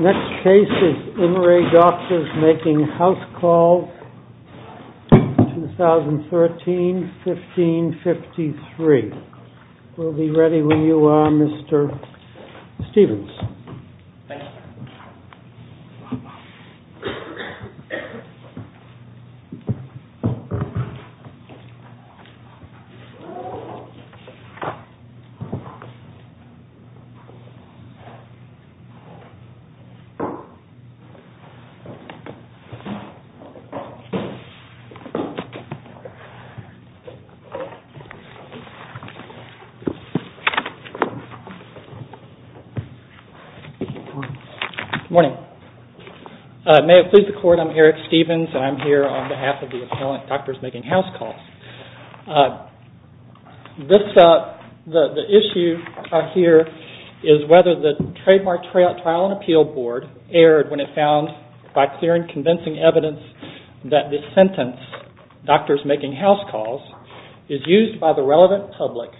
Next case is In Re Doctors Making Housecalls, 2013-15-53. We'll be ready when you are, Mr. Stevens. Thank you. Good morning. May it please the Court, I'm Eric Stevens and I'm here on behalf of the appellant Doctors Making Housecalls. The issue here is whether the Trademark Trial and Appeal Board erred when it found by clear and convincing evidence that this sentence, Doctors Making Housecalls, is used by the relevant public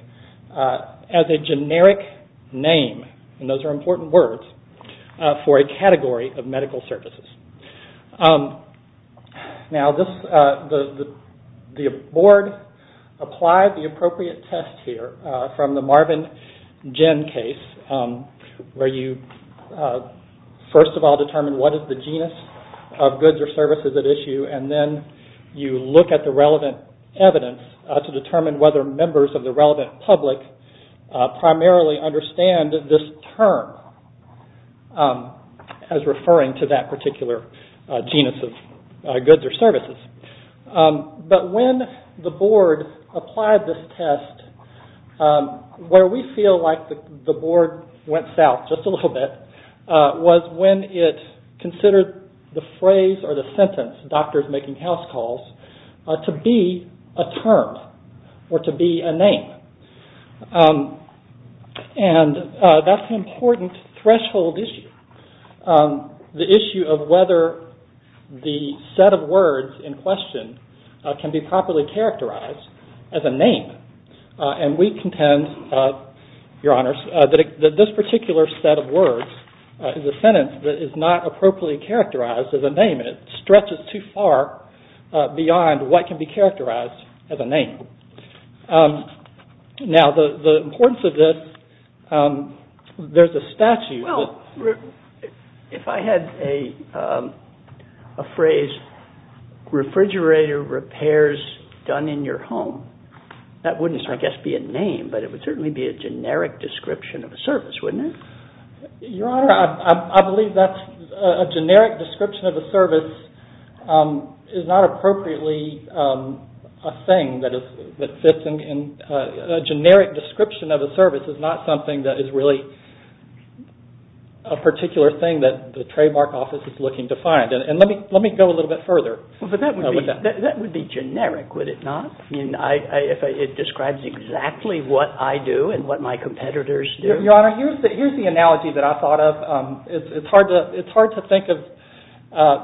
as a generic name, and those are important words, for a category of medical services. Now, the Board applied the appropriate test here from the Marvin Jinn case where you first of all determine what is the genus of goods or services at issue and then you look at the relevant evidence to determine whether members of the relevant public primarily understand this term as referring to that particular genus of goods or services. But when the Board applied this test, where we feel like the Board went south just a little bit, was when it considered the phrase or the sentence, Doctors Making Housecalls, to be a term or to be a name. And that's an important threshold issue, the issue of whether the set of words in question can be properly characterized as a name. And we contend, Your Honors, that this particular set of words is a sentence that is not appropriately characterized as a name. It stretches too far beyond what can be characterized as a name. Now, the importance of this, there's a statute that... Well, if I had a phrase, refrigerator repairs done in your home, that wouldn't, I guess, be a name, but it would certainly be a generic description of a service, wouldn't it? Your Honor, I believe that a generic description of a service is not appropriately a thing that fits in... A generic description of a service is not something that is really a particular thing that the trademark office is looking to find. And let me go a little bit further. Well, but that would be generic, would it not? I mean, it describes exactly what I do and what my competitors do. Your Honor, here's the analogy that I thought of. It's hard to think of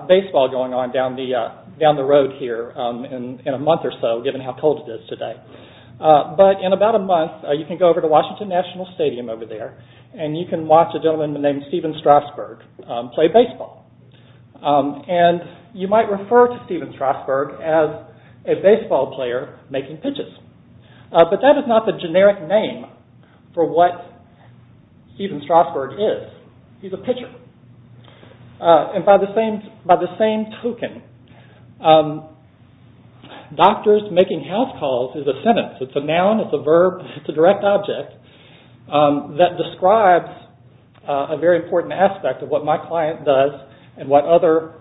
baseball going on down the road here in a month or so, given how cold it is today. But in about a month, you can go over to Washington National Stadium over there, and you can watch a gentleman named Steven Strasburg play baseball. And you might refer to Steven Strasburg as a baseball player making pitches. But that is not the generic name for what Steven Strasburg is. He's a pitcher. And by the same token, doctors making house calls is a sentence. It's a noun. It's a verb. It's a direct object that describes a very important aspect of what my client does and what other...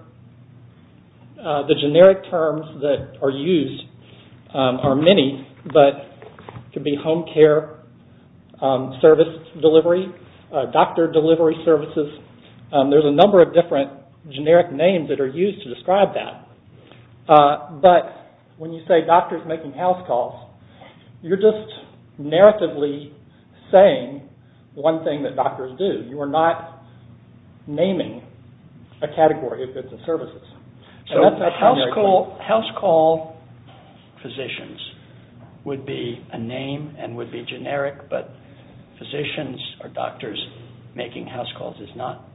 There's a number of different generic names that are used to describe that. But when you say doctors making house calls, you're just narratively saying one thing that doctors do. You are not naming a category of goods and services. House call physicians would be a name and would be generic, but physicians or doctors making house calls is not.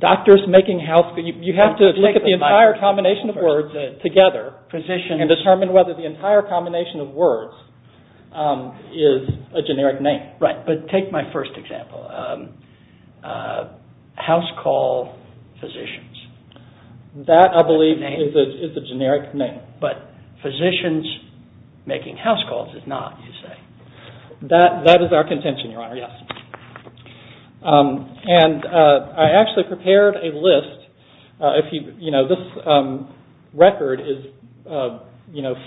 Doctors making house calls. You have to look at the entire combination of words together and determine whether the entire combination of words is a generic name. Right, but take my first example. House call physicians. That, I believe, is a generic name. But physicians making house calls is not, you say. That is our contention, Your Honor, yes. And I actually prepared a list. This record is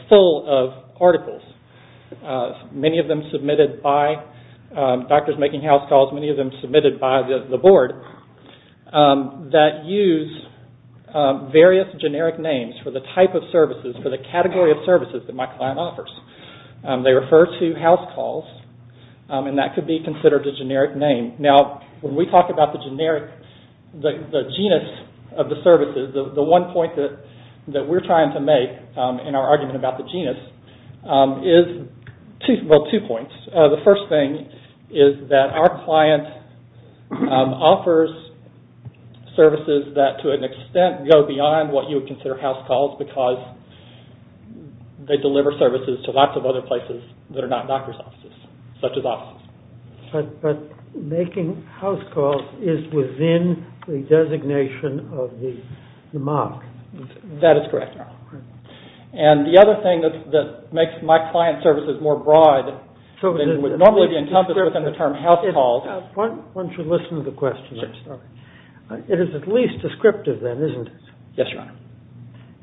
full of articles, many of them submitted by doctors making house calls, many of them submitted by the board, that use various generic names for the type of services, for the category of services that my client offers. They refer to house calls and that could be considered a generic name. Now, when we talk about the generic, the genus of the services, the one point that we're trying to make in our argument about the genus is two points. The first thing is that our client offers services that, to an extent, go beyond what you would consider house calls because they deliver services to lots of other places that are not doctors' offices, such as offices. But making house calls is within the designation of the mark. That is correct, Your Honor. And the other thing that makes my client services more broad than would normally be encompassed within the term house calls. Why don't you listen to the question? It is at least descriptive then, isn't it? Yes, Your Honor.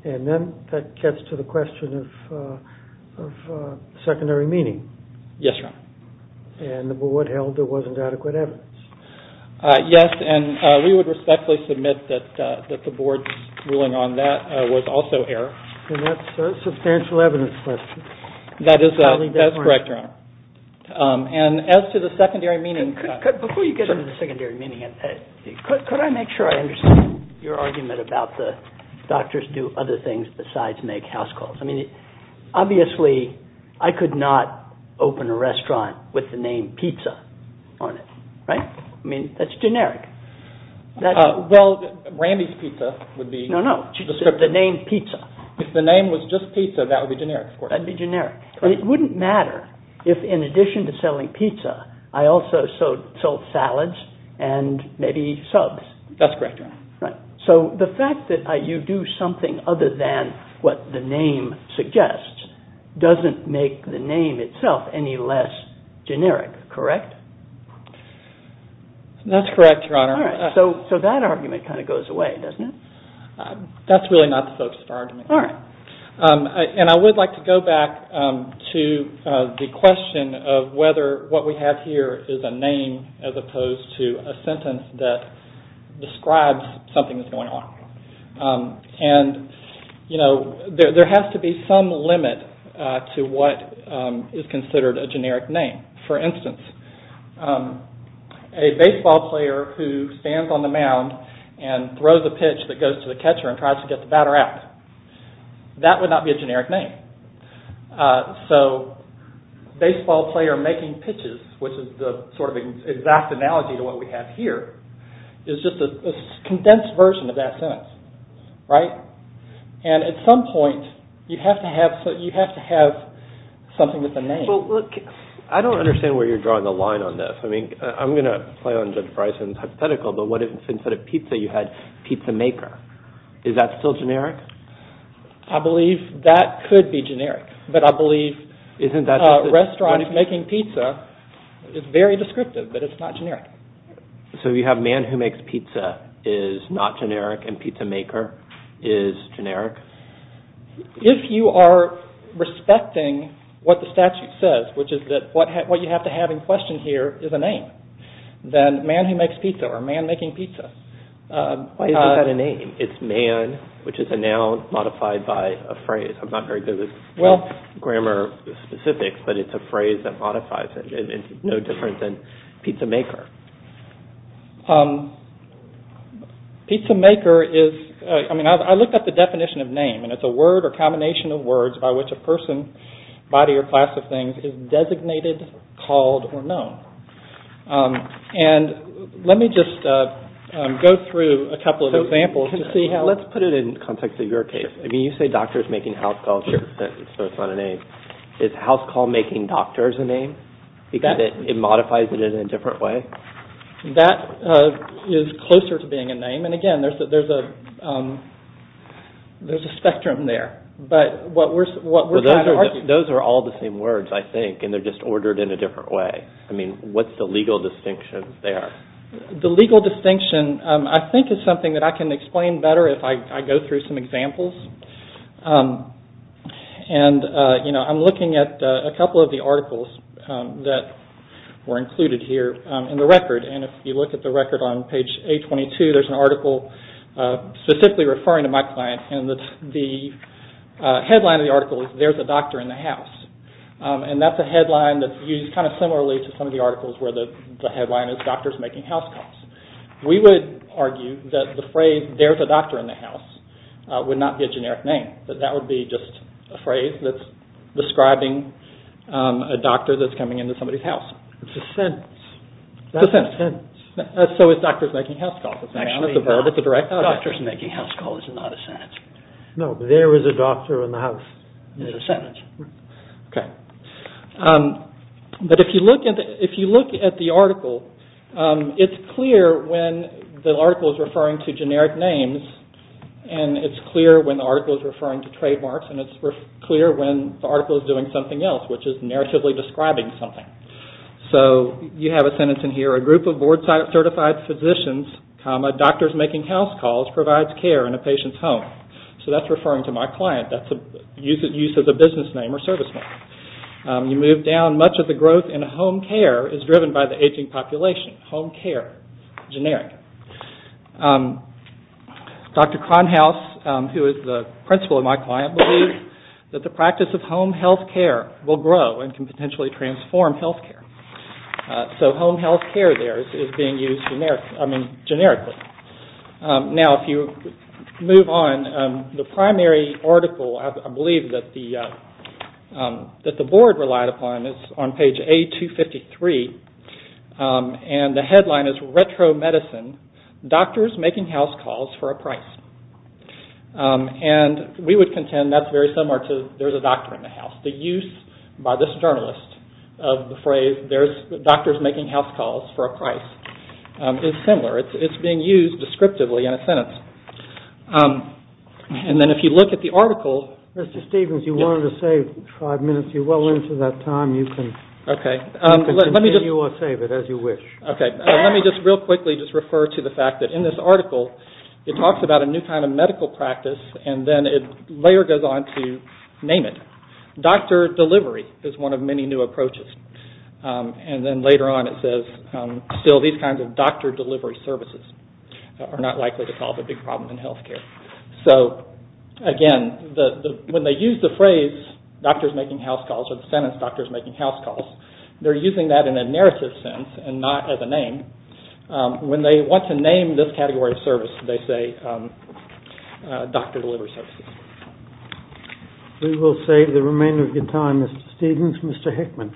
And then that gets to the question of secondary meaning. Yes, Your Honor. And the board held there wasn't adequate evidence. Yes, and we would respectfully submit that the board's ruling on that was also error. And that's a substantial evidence question. That is correct, Your Honor. And as to the secondary meaning... Before you get into the secondary meaning, could I make sure I understand your argument about the doctors do other things besides make house calls? Obviously, I could not open a restaurant with the name pizza on it, right? I mean, that's generic. Well, Randy's Pizza would be... No, no, the name pizza. If the name was just pizza, that would be generic, of course. That would be generic. But it wouldn't matter if, in addition to selling pizza, I also sold salads and maybe subs. That's correct, Your Honor. So the fact that you do something other than what the name suggests doesn't make the name itself any less generic, correct? That's correct, Your Honor. All right, so that argument kind of goes away, doesn't it? That's really not the focus of our argument. All right. And I would like to go back to the question of whether what we have here is a name as opposed to a sentence that describes something that's going on. And, you know, there has to be some limit to what is considered a generic name. For instance, a baseball player who stands on the mound and throws a pitch that goes to the catcher and tries to get the batter out, that would not be a generic name. So baseball player making pitches, which is the sort of exact analogy to what we have here, is just a condensed version of that sentence, right? And at some point, you have to have something with a name. Well, look, I don't understand where you're drawing the line on this. I mean, I'm going to play on Judge Bryson's hypothetical, but what if instead of pizza you had pizza maker? Is that still generic? I believe that could be generic, but I believe restaurants making pizza is very descriptive, but it's not generic. So you have man who makes pizza is not generic and pizza maker is generic? If you are respecting what the statute says, which is that what you have to have in question here is a name, then man who makes pizza or man making pizza. Why is that a name? It's man, which is a noun modified by a phrase. I'm not very good with grammar specifics, but it's a phrase that modifies it. It's no different than pizza maker. Pizza maker is, I mean, I looked up the definition of name, and it's a word or combination of words by which a person, body, or class of things is designated, called, or known. And let me just go through a couple of examples to see how... Let's put it in context of your case. I mean, you say doctors making house calls, so it's not a name. Is house call making doctors a name? Because it modifies it in a different way? That is closer to being a name, and again, there's a spectrum there. But what we're trying to argue... Those are all the same words, I think, and they're just ordered in a different way. I mean, what's the legal distinction there? The legal distinction, I think, is something that I can explain better if I go through some examples. And, you know, I'm looking at a couple of the articles that were included here in the record, and if you look at the record on page 822, there's an article specifically referring to my client, and the headline of the article is, there's a doctor in the house. And that's a headline that's used kind of similarly to some of the articles where the headline is doctors making house calls. We would argue that the phrase, there's a doctor in the house, would not be a generic name. That that would be just a phrase that's describing a doctor that's coming into somebody's house. It's a sentence. It's a sentence. So it's doctors making house calls. Actually, no. It's a verb. It's a direct object. Doctors making house calls is not a sentence. No, there is a doctor in the house. It's a sentence. Okay. But if you look at the article, it's clear when the article is referring to generic names, and it's clear when the article is referring to trademarks, and it's clear when the article is doing something else, which is narratively describing something. So you have a sentence in here. A group of board certified physicians, comma, doctors making house calls, provides care in a patient's home. So that's referring to my client. That's a use of the business name or service name. You move down. Much of the growth in home care is driven by the aging population. Home care, generic. Dr. Kronhaus, who is the principal of my client, believes that the practice of home health care will grow and can potentially transform health care. So home health care there is being used generically. Now, if you move on, the primary article, I believe, that the board relied upon is on page A253, and the headline is Retro Medicine, Doctors Making House Calls for a Price. And we would contend that's very similar to there's a doctor in the house. The use by this journalist of the phrase doctors making house calls for a price is similar. It's being used descriptively in a sentence. And then if you look at the article. Mr. Stevens, you wanted to save five minutes. You're well into that time. You can continue or save it as you wish. Okay. Let me just real quickly just refer to the fact that in this article it talks about a new kind of medical practice, and then it later goes on to name it. Doctor delivery is one of many new approaches. And then later on it says still these kinds of doctor delivery services are not likely to solve a big problem in health care. So, again, when they use the phrase doctors making house calls or the sentence doctors making house calls, they're using that in a narrative sense and not as a name. When they want to name this category of service, they say doctor delivery services. We will save the remainder of your time, Mr. Stevens. Mr. Hickman.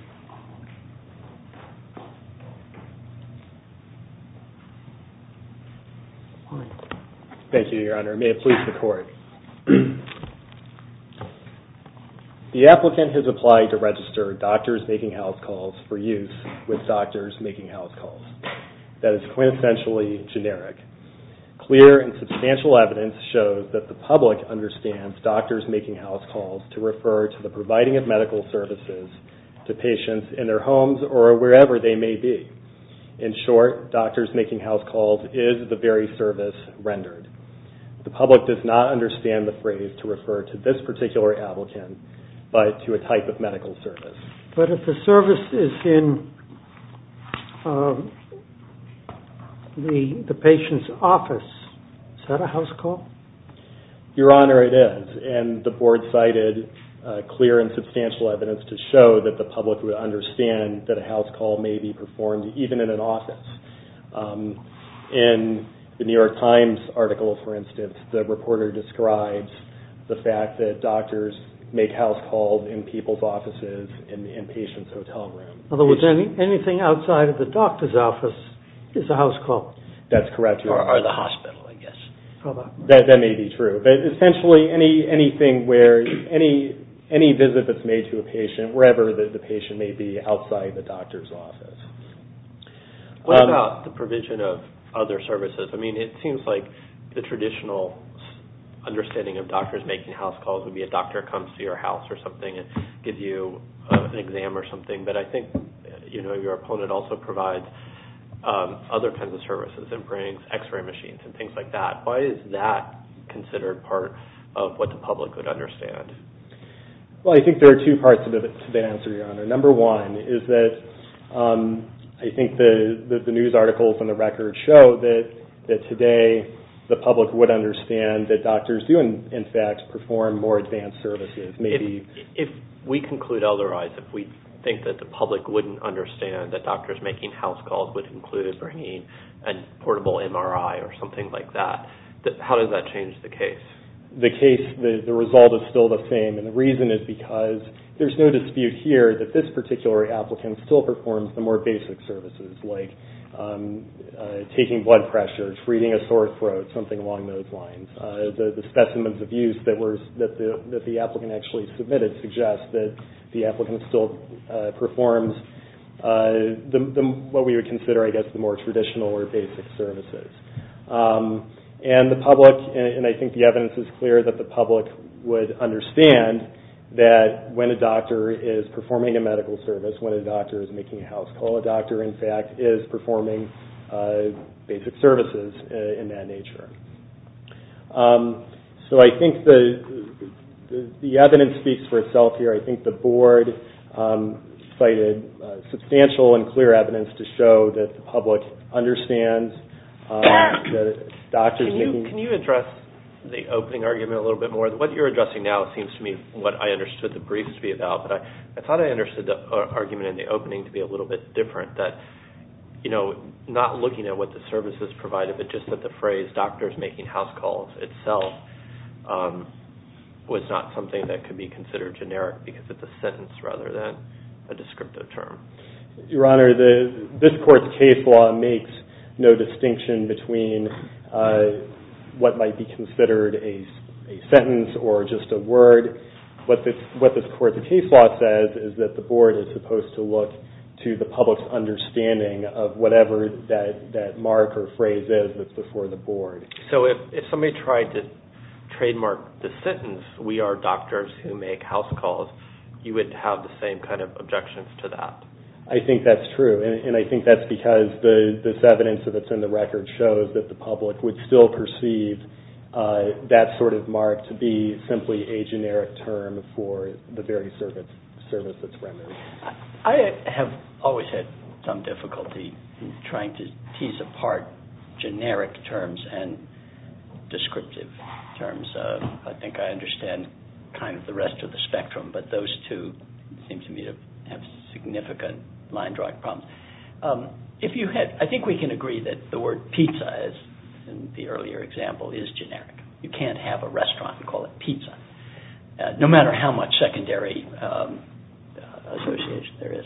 Thank you, Your Honor. May it please the Court. The applicant has applied to register doctors making house calls for use with doctors making house calls. That is quintessentially generic. Clear and substantial evidence shows that the public understands doctors making house calls to refer to the providing of medical services to patients in their homes or wherever they may be. In short, doctors making house calls is the very service rendered. The public does not understand the phrase to refer to this particular applicant but to a type of medical service. But if the service is in the patient's office, is that a house call? Your Honor, it is. And the Board cited clear and substantial evidence to show that the public would understand that a house call may be performed even in an office. The reporter describes the fact that doctors make house calls in people's offices, in patients' hotel rooms. In other words, anything outside of the doctor's office is a house call. That's correct, Your Honor. Or the hospital, I guess. That may be true. But essentially, anything where any visit that's made to a patient, wherever the patient may be outside the doctor's office. What about the provision of other services? I mean, it seems like the traditional understanding of doctors making house calls would be a doctor comes to your house or something and gives you an exam or something. But I think your opponent also provides other kinds of services and brings x-ray machines and things like that. Why is that considered part of what the public would understand? Well, I think there are two parts to that answer, Your Honor. Number one is that I think that the news articles and the records show that today the public would understand that doctors do, in fact, perform more advanced services. If we conclude otherwise, if we think that the public wouldn't understand that doctors making house calls would include bringing a portable MRI or something like that, how does that change the case? The case, the result is still the same. And the reason is because there's no dispute here that this particular applicant still performs the more basic services, like taking blood pressures, reading a sore throat, something along those lines. The specimens of use that the applicant actually submitted suggests that the applicant still performs what we would consider, I guess, the more traditional or basic services. And the public, and I think the evidence is clear, that the public would understand that when a doctor is performing a medical service, when a doctor is making a house call, a doctor, in fact, is performing basic services in that nature. So I think the evidence speaks for itself here. I think the board cited substantial and clear evidence to show that the public understands that doctors making... Can you address the opening argument a little bit more? What you're addressing now seems to me what I understood the briefs to be about, but I thought I understood the argument in the opening to be a little bit different, that, you know, not looking at what the services provided, but just that the phrase doctors making house calls itself was not something that could be considered generic because it's a sentence rather than a descriptive term. Your Honor, this court's case law makes no distinction between what might be considered a sentence or just a word. What this court's case law says is that the board is supposed to look to the public's understanding of whatever that mark or phrase is that's before the board. So if somebody tried to trademark the sentence, we are doctors who make house calls, you would have the same kind of objections to that? I think that's true, and I think that's because this evidence that's in the record shows that the public would still perceive that sort of mark to be simply a generic term for the very service that's rendered. I have always had some difficulty in trying to tease apart generic terms and descriptive terms. I think I understand kind of the rest of the spectrum, but those two seem to me to have significant line drawing problems. I think we can agree that the word pizza, as in the earlier example, is generic. You can't have a restaurant and call it pizza. No matter how much secondary association there is.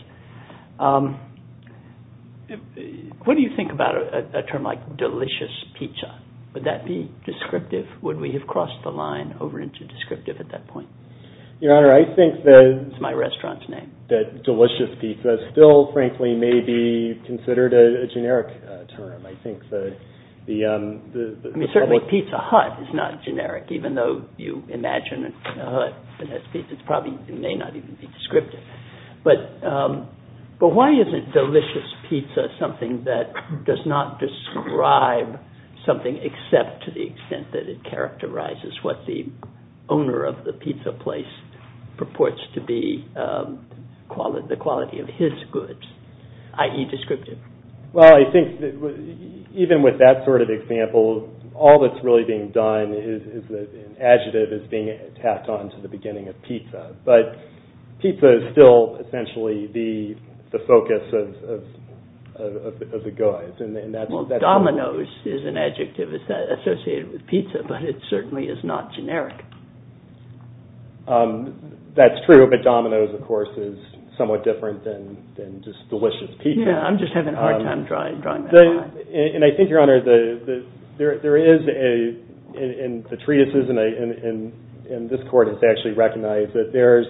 What do you think about a term like delicious pizza? Would that be descriptive? Would we have crossed the line over into descriptive at that point? Your Honor, I think that delicious pizza still, frankly, may be considered a generic term. Certainly pizza hut is not generic, even though you imagine a hut that has pizza, it may not even be descriptive. But why isn't delicious pizza something that does not describe something except to the extent that it characterizes what the owner of the pizza place purports to be the quality of his goods, i.e. descriptive? Well, I think even with that sort of example, all that's really being done is an adjective that's being tacked on to the beginning of pizza. But pizza is still essentially the focus of the goods. Well, dominoes is an adjective associated with pizza, but it certainly is not generic. That's true, but dominoes, of course, is somewhat different than just delicious pizza. Yeah, I'm just having a hard time drawing that line. And I think, Your Honor, there is, in the treatises, and this Court has actually recognized that there is,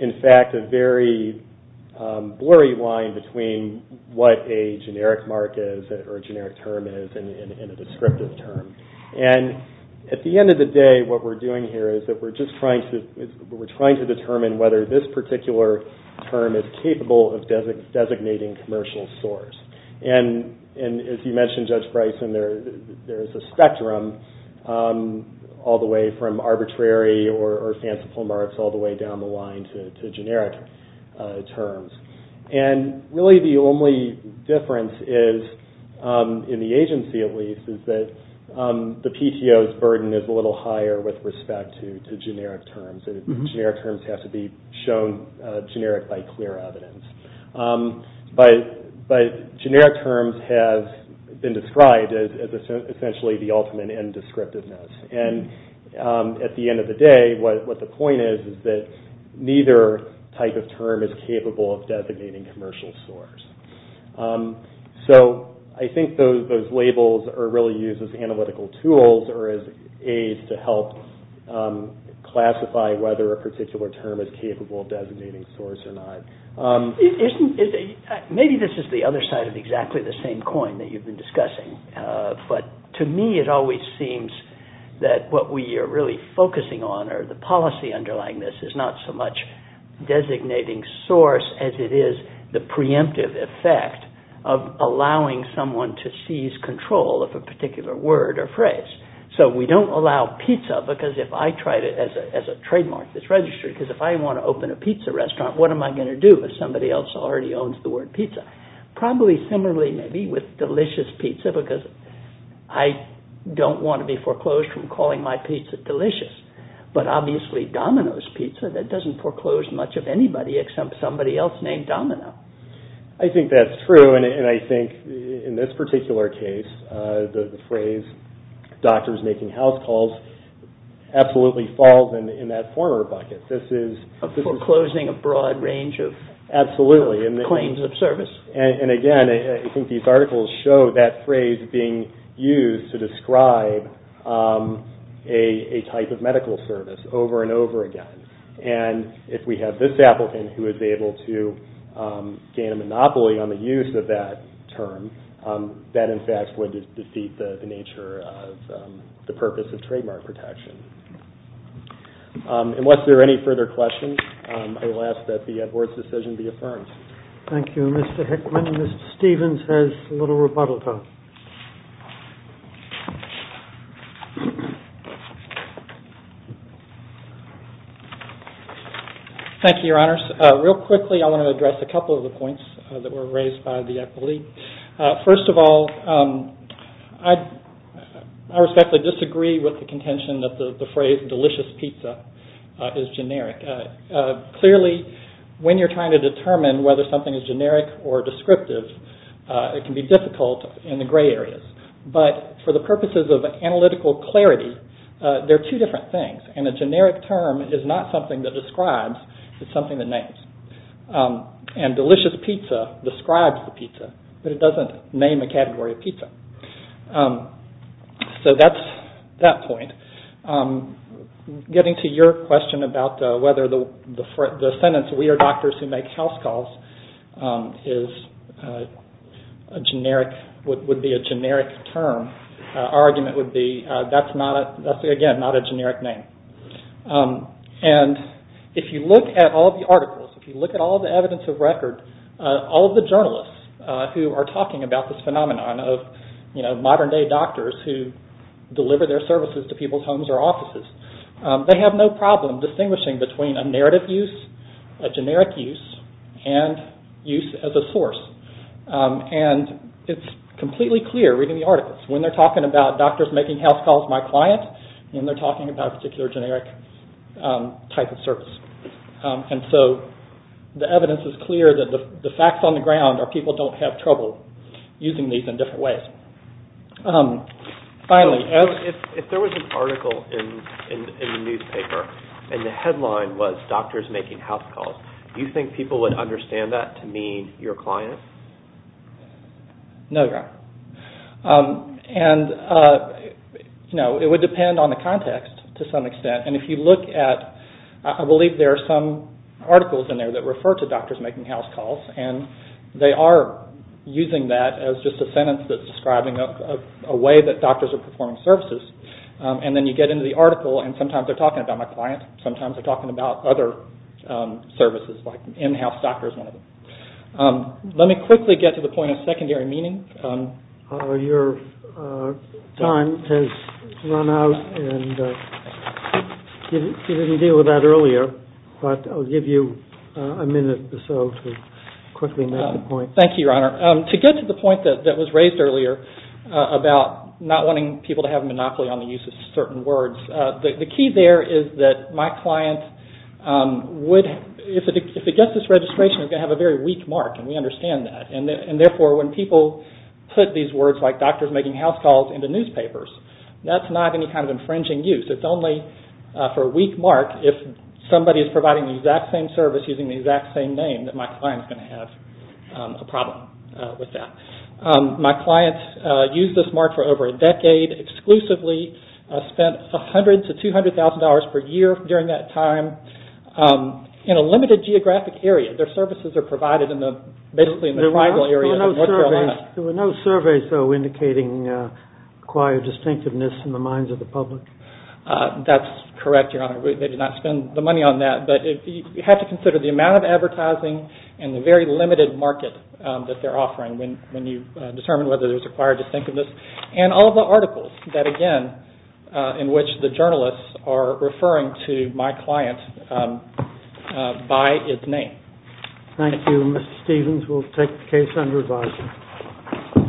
in fact, a very blurry line between what a generic mark is or a generic term is and a descriptive term. And at the end of the day, what we're doing here is that we're just trying to determine whether this particular term is capable of designating commercial source. And as you mentioned, Judge Bryson, there is a spectrum all the way from arbitrary or fanciful marks all the way down the line to generic terms. And really the only difference is, in the agency at least, is that the PTO's burden is a little higher with respect to generic terms. Generic terms have to be shown generic by clear evidence. But generic terms have been described as essentially the ultimate in descriptiveness. And at the end of the day, what the point is, is that neither type of term is capable of designating commercial source. So I think those labels are really used as analytical tools or as aids to help classify whether a particular term is capable of designating source or not. Maybe this is the other side of exactly the same coin that you've been discussing, but to me it always seems that what we are really focusing on or the policy underlying this is not so much designating source as it is the preemptive effect of allowing someone to seize control of a particular word or phrase. So we don't allow pizza, because if I tried it as a trademark that's registered, because if I want to open a pizza restaurant, what am I going to do if somebody else already owns the word pizza? Probably similarly maybe with delicious pizza, because I don't want to be foreclosed from calling my pizza delicious. But obviously Domino's pizza, that doesn't foreclose much of anybody except somebody else named Domino. I think that's true, and I think in this particular case, the phrase doctors making house calls absolutely falls in that former bucket. Foreclosing a broad range of claims of service. And again, I think these articles show that phrase being used to describe a type of medical service over and over again. And if we have this applicant who is able to gain a monopoly on the use of that term, that in fact would defeat the nature of the purpose of trademark protection. Unless there are any further questions, I will ask that the board's decision be affirmed. Thank you, Mr. Hickman. Mr. Stevens has a little rebuttal time. Thank you, your honors. Real quickly, I want to address a couple of the points that were raised by the appellee. First of all, I respectfully disagree with the contention that the phrase delicious pizza is generic. Clearly, when you're trying to determine whether something is generic or descriptive, it can be difficult in the gray areas. But for the purposes of analytical clarity, there are two different things, and a generic term is not something that describes, it's something that names. And delicious pizza describes the pizza, but it doesn't name a category of pizza. So that's that point. Getting to your question about whether the sentence we are doctors who make house calls would be a generic term, our argument would be that's again not a generic name. And if you look at all the articles, if you look at all the evidence of record, all of the journalists who are talking about this phenomenon of modern day doctors who deliver their services to people's homes or offices, they have no problem distinguishing between a narrative use, a generic use, and use as a source. And it's completely clear reading the articles. When they're talking about doctors making house calls to my client, then they're talking about a particular generic type of service. And so the evidence is clear that the facts on the ground are people don't have trouble using these in different ways. Finally, if there was an article in the newspaper and the headline was doctors making house calls, do you think people would understand that to mean your client? No, John. And no, it would depend on the context to some extent. And if you look at, I believe there are some articles in there that refer to doctors making house calls, and they are using that as just a sentence that's describing a way that doctors are performing services. And then you get into the article and sometimes they're talking about my client, sometimes they're talking about other services like in-house doctors. Let me quickly get to the point of secondary meaning. Your time has run out, and you didn't deal with that earlier, but I'll give you a minute or so to quickly make the point. Thank you, Your Honor. To get to the point that was raised earlier about not wanting people to have a monopoly on the use of certain words, the key there is that my client would, if it gets this registration, it's going to have a very weak mark, and we understand that. And, therefore, when people put these words like doctors making house calls into newspapers, that's not any kind of infringing use. It's only for a weak mark if somebody is providing the exact same service using the exact same name that my client is going to have a problem with that. My client used this mark for over a decade exclusively, spent $100,000 to $200,000 per year during that time. In a limited geographic area, their services are provided basically in the tribal area of North Carolina. There were no surveys, though, indicating acquired distinctiveness in the minds of the public? That's correct, Your Honor. We did not spend the money on that, but you have to consider the amount of advertising and the very limited market that they're offering when you determine whether there's acquired distinctiveness. And all the articles that, again, in which the journalists are referring to my client by its name. Thank you, Mr. Stevens. We'll take the case under review.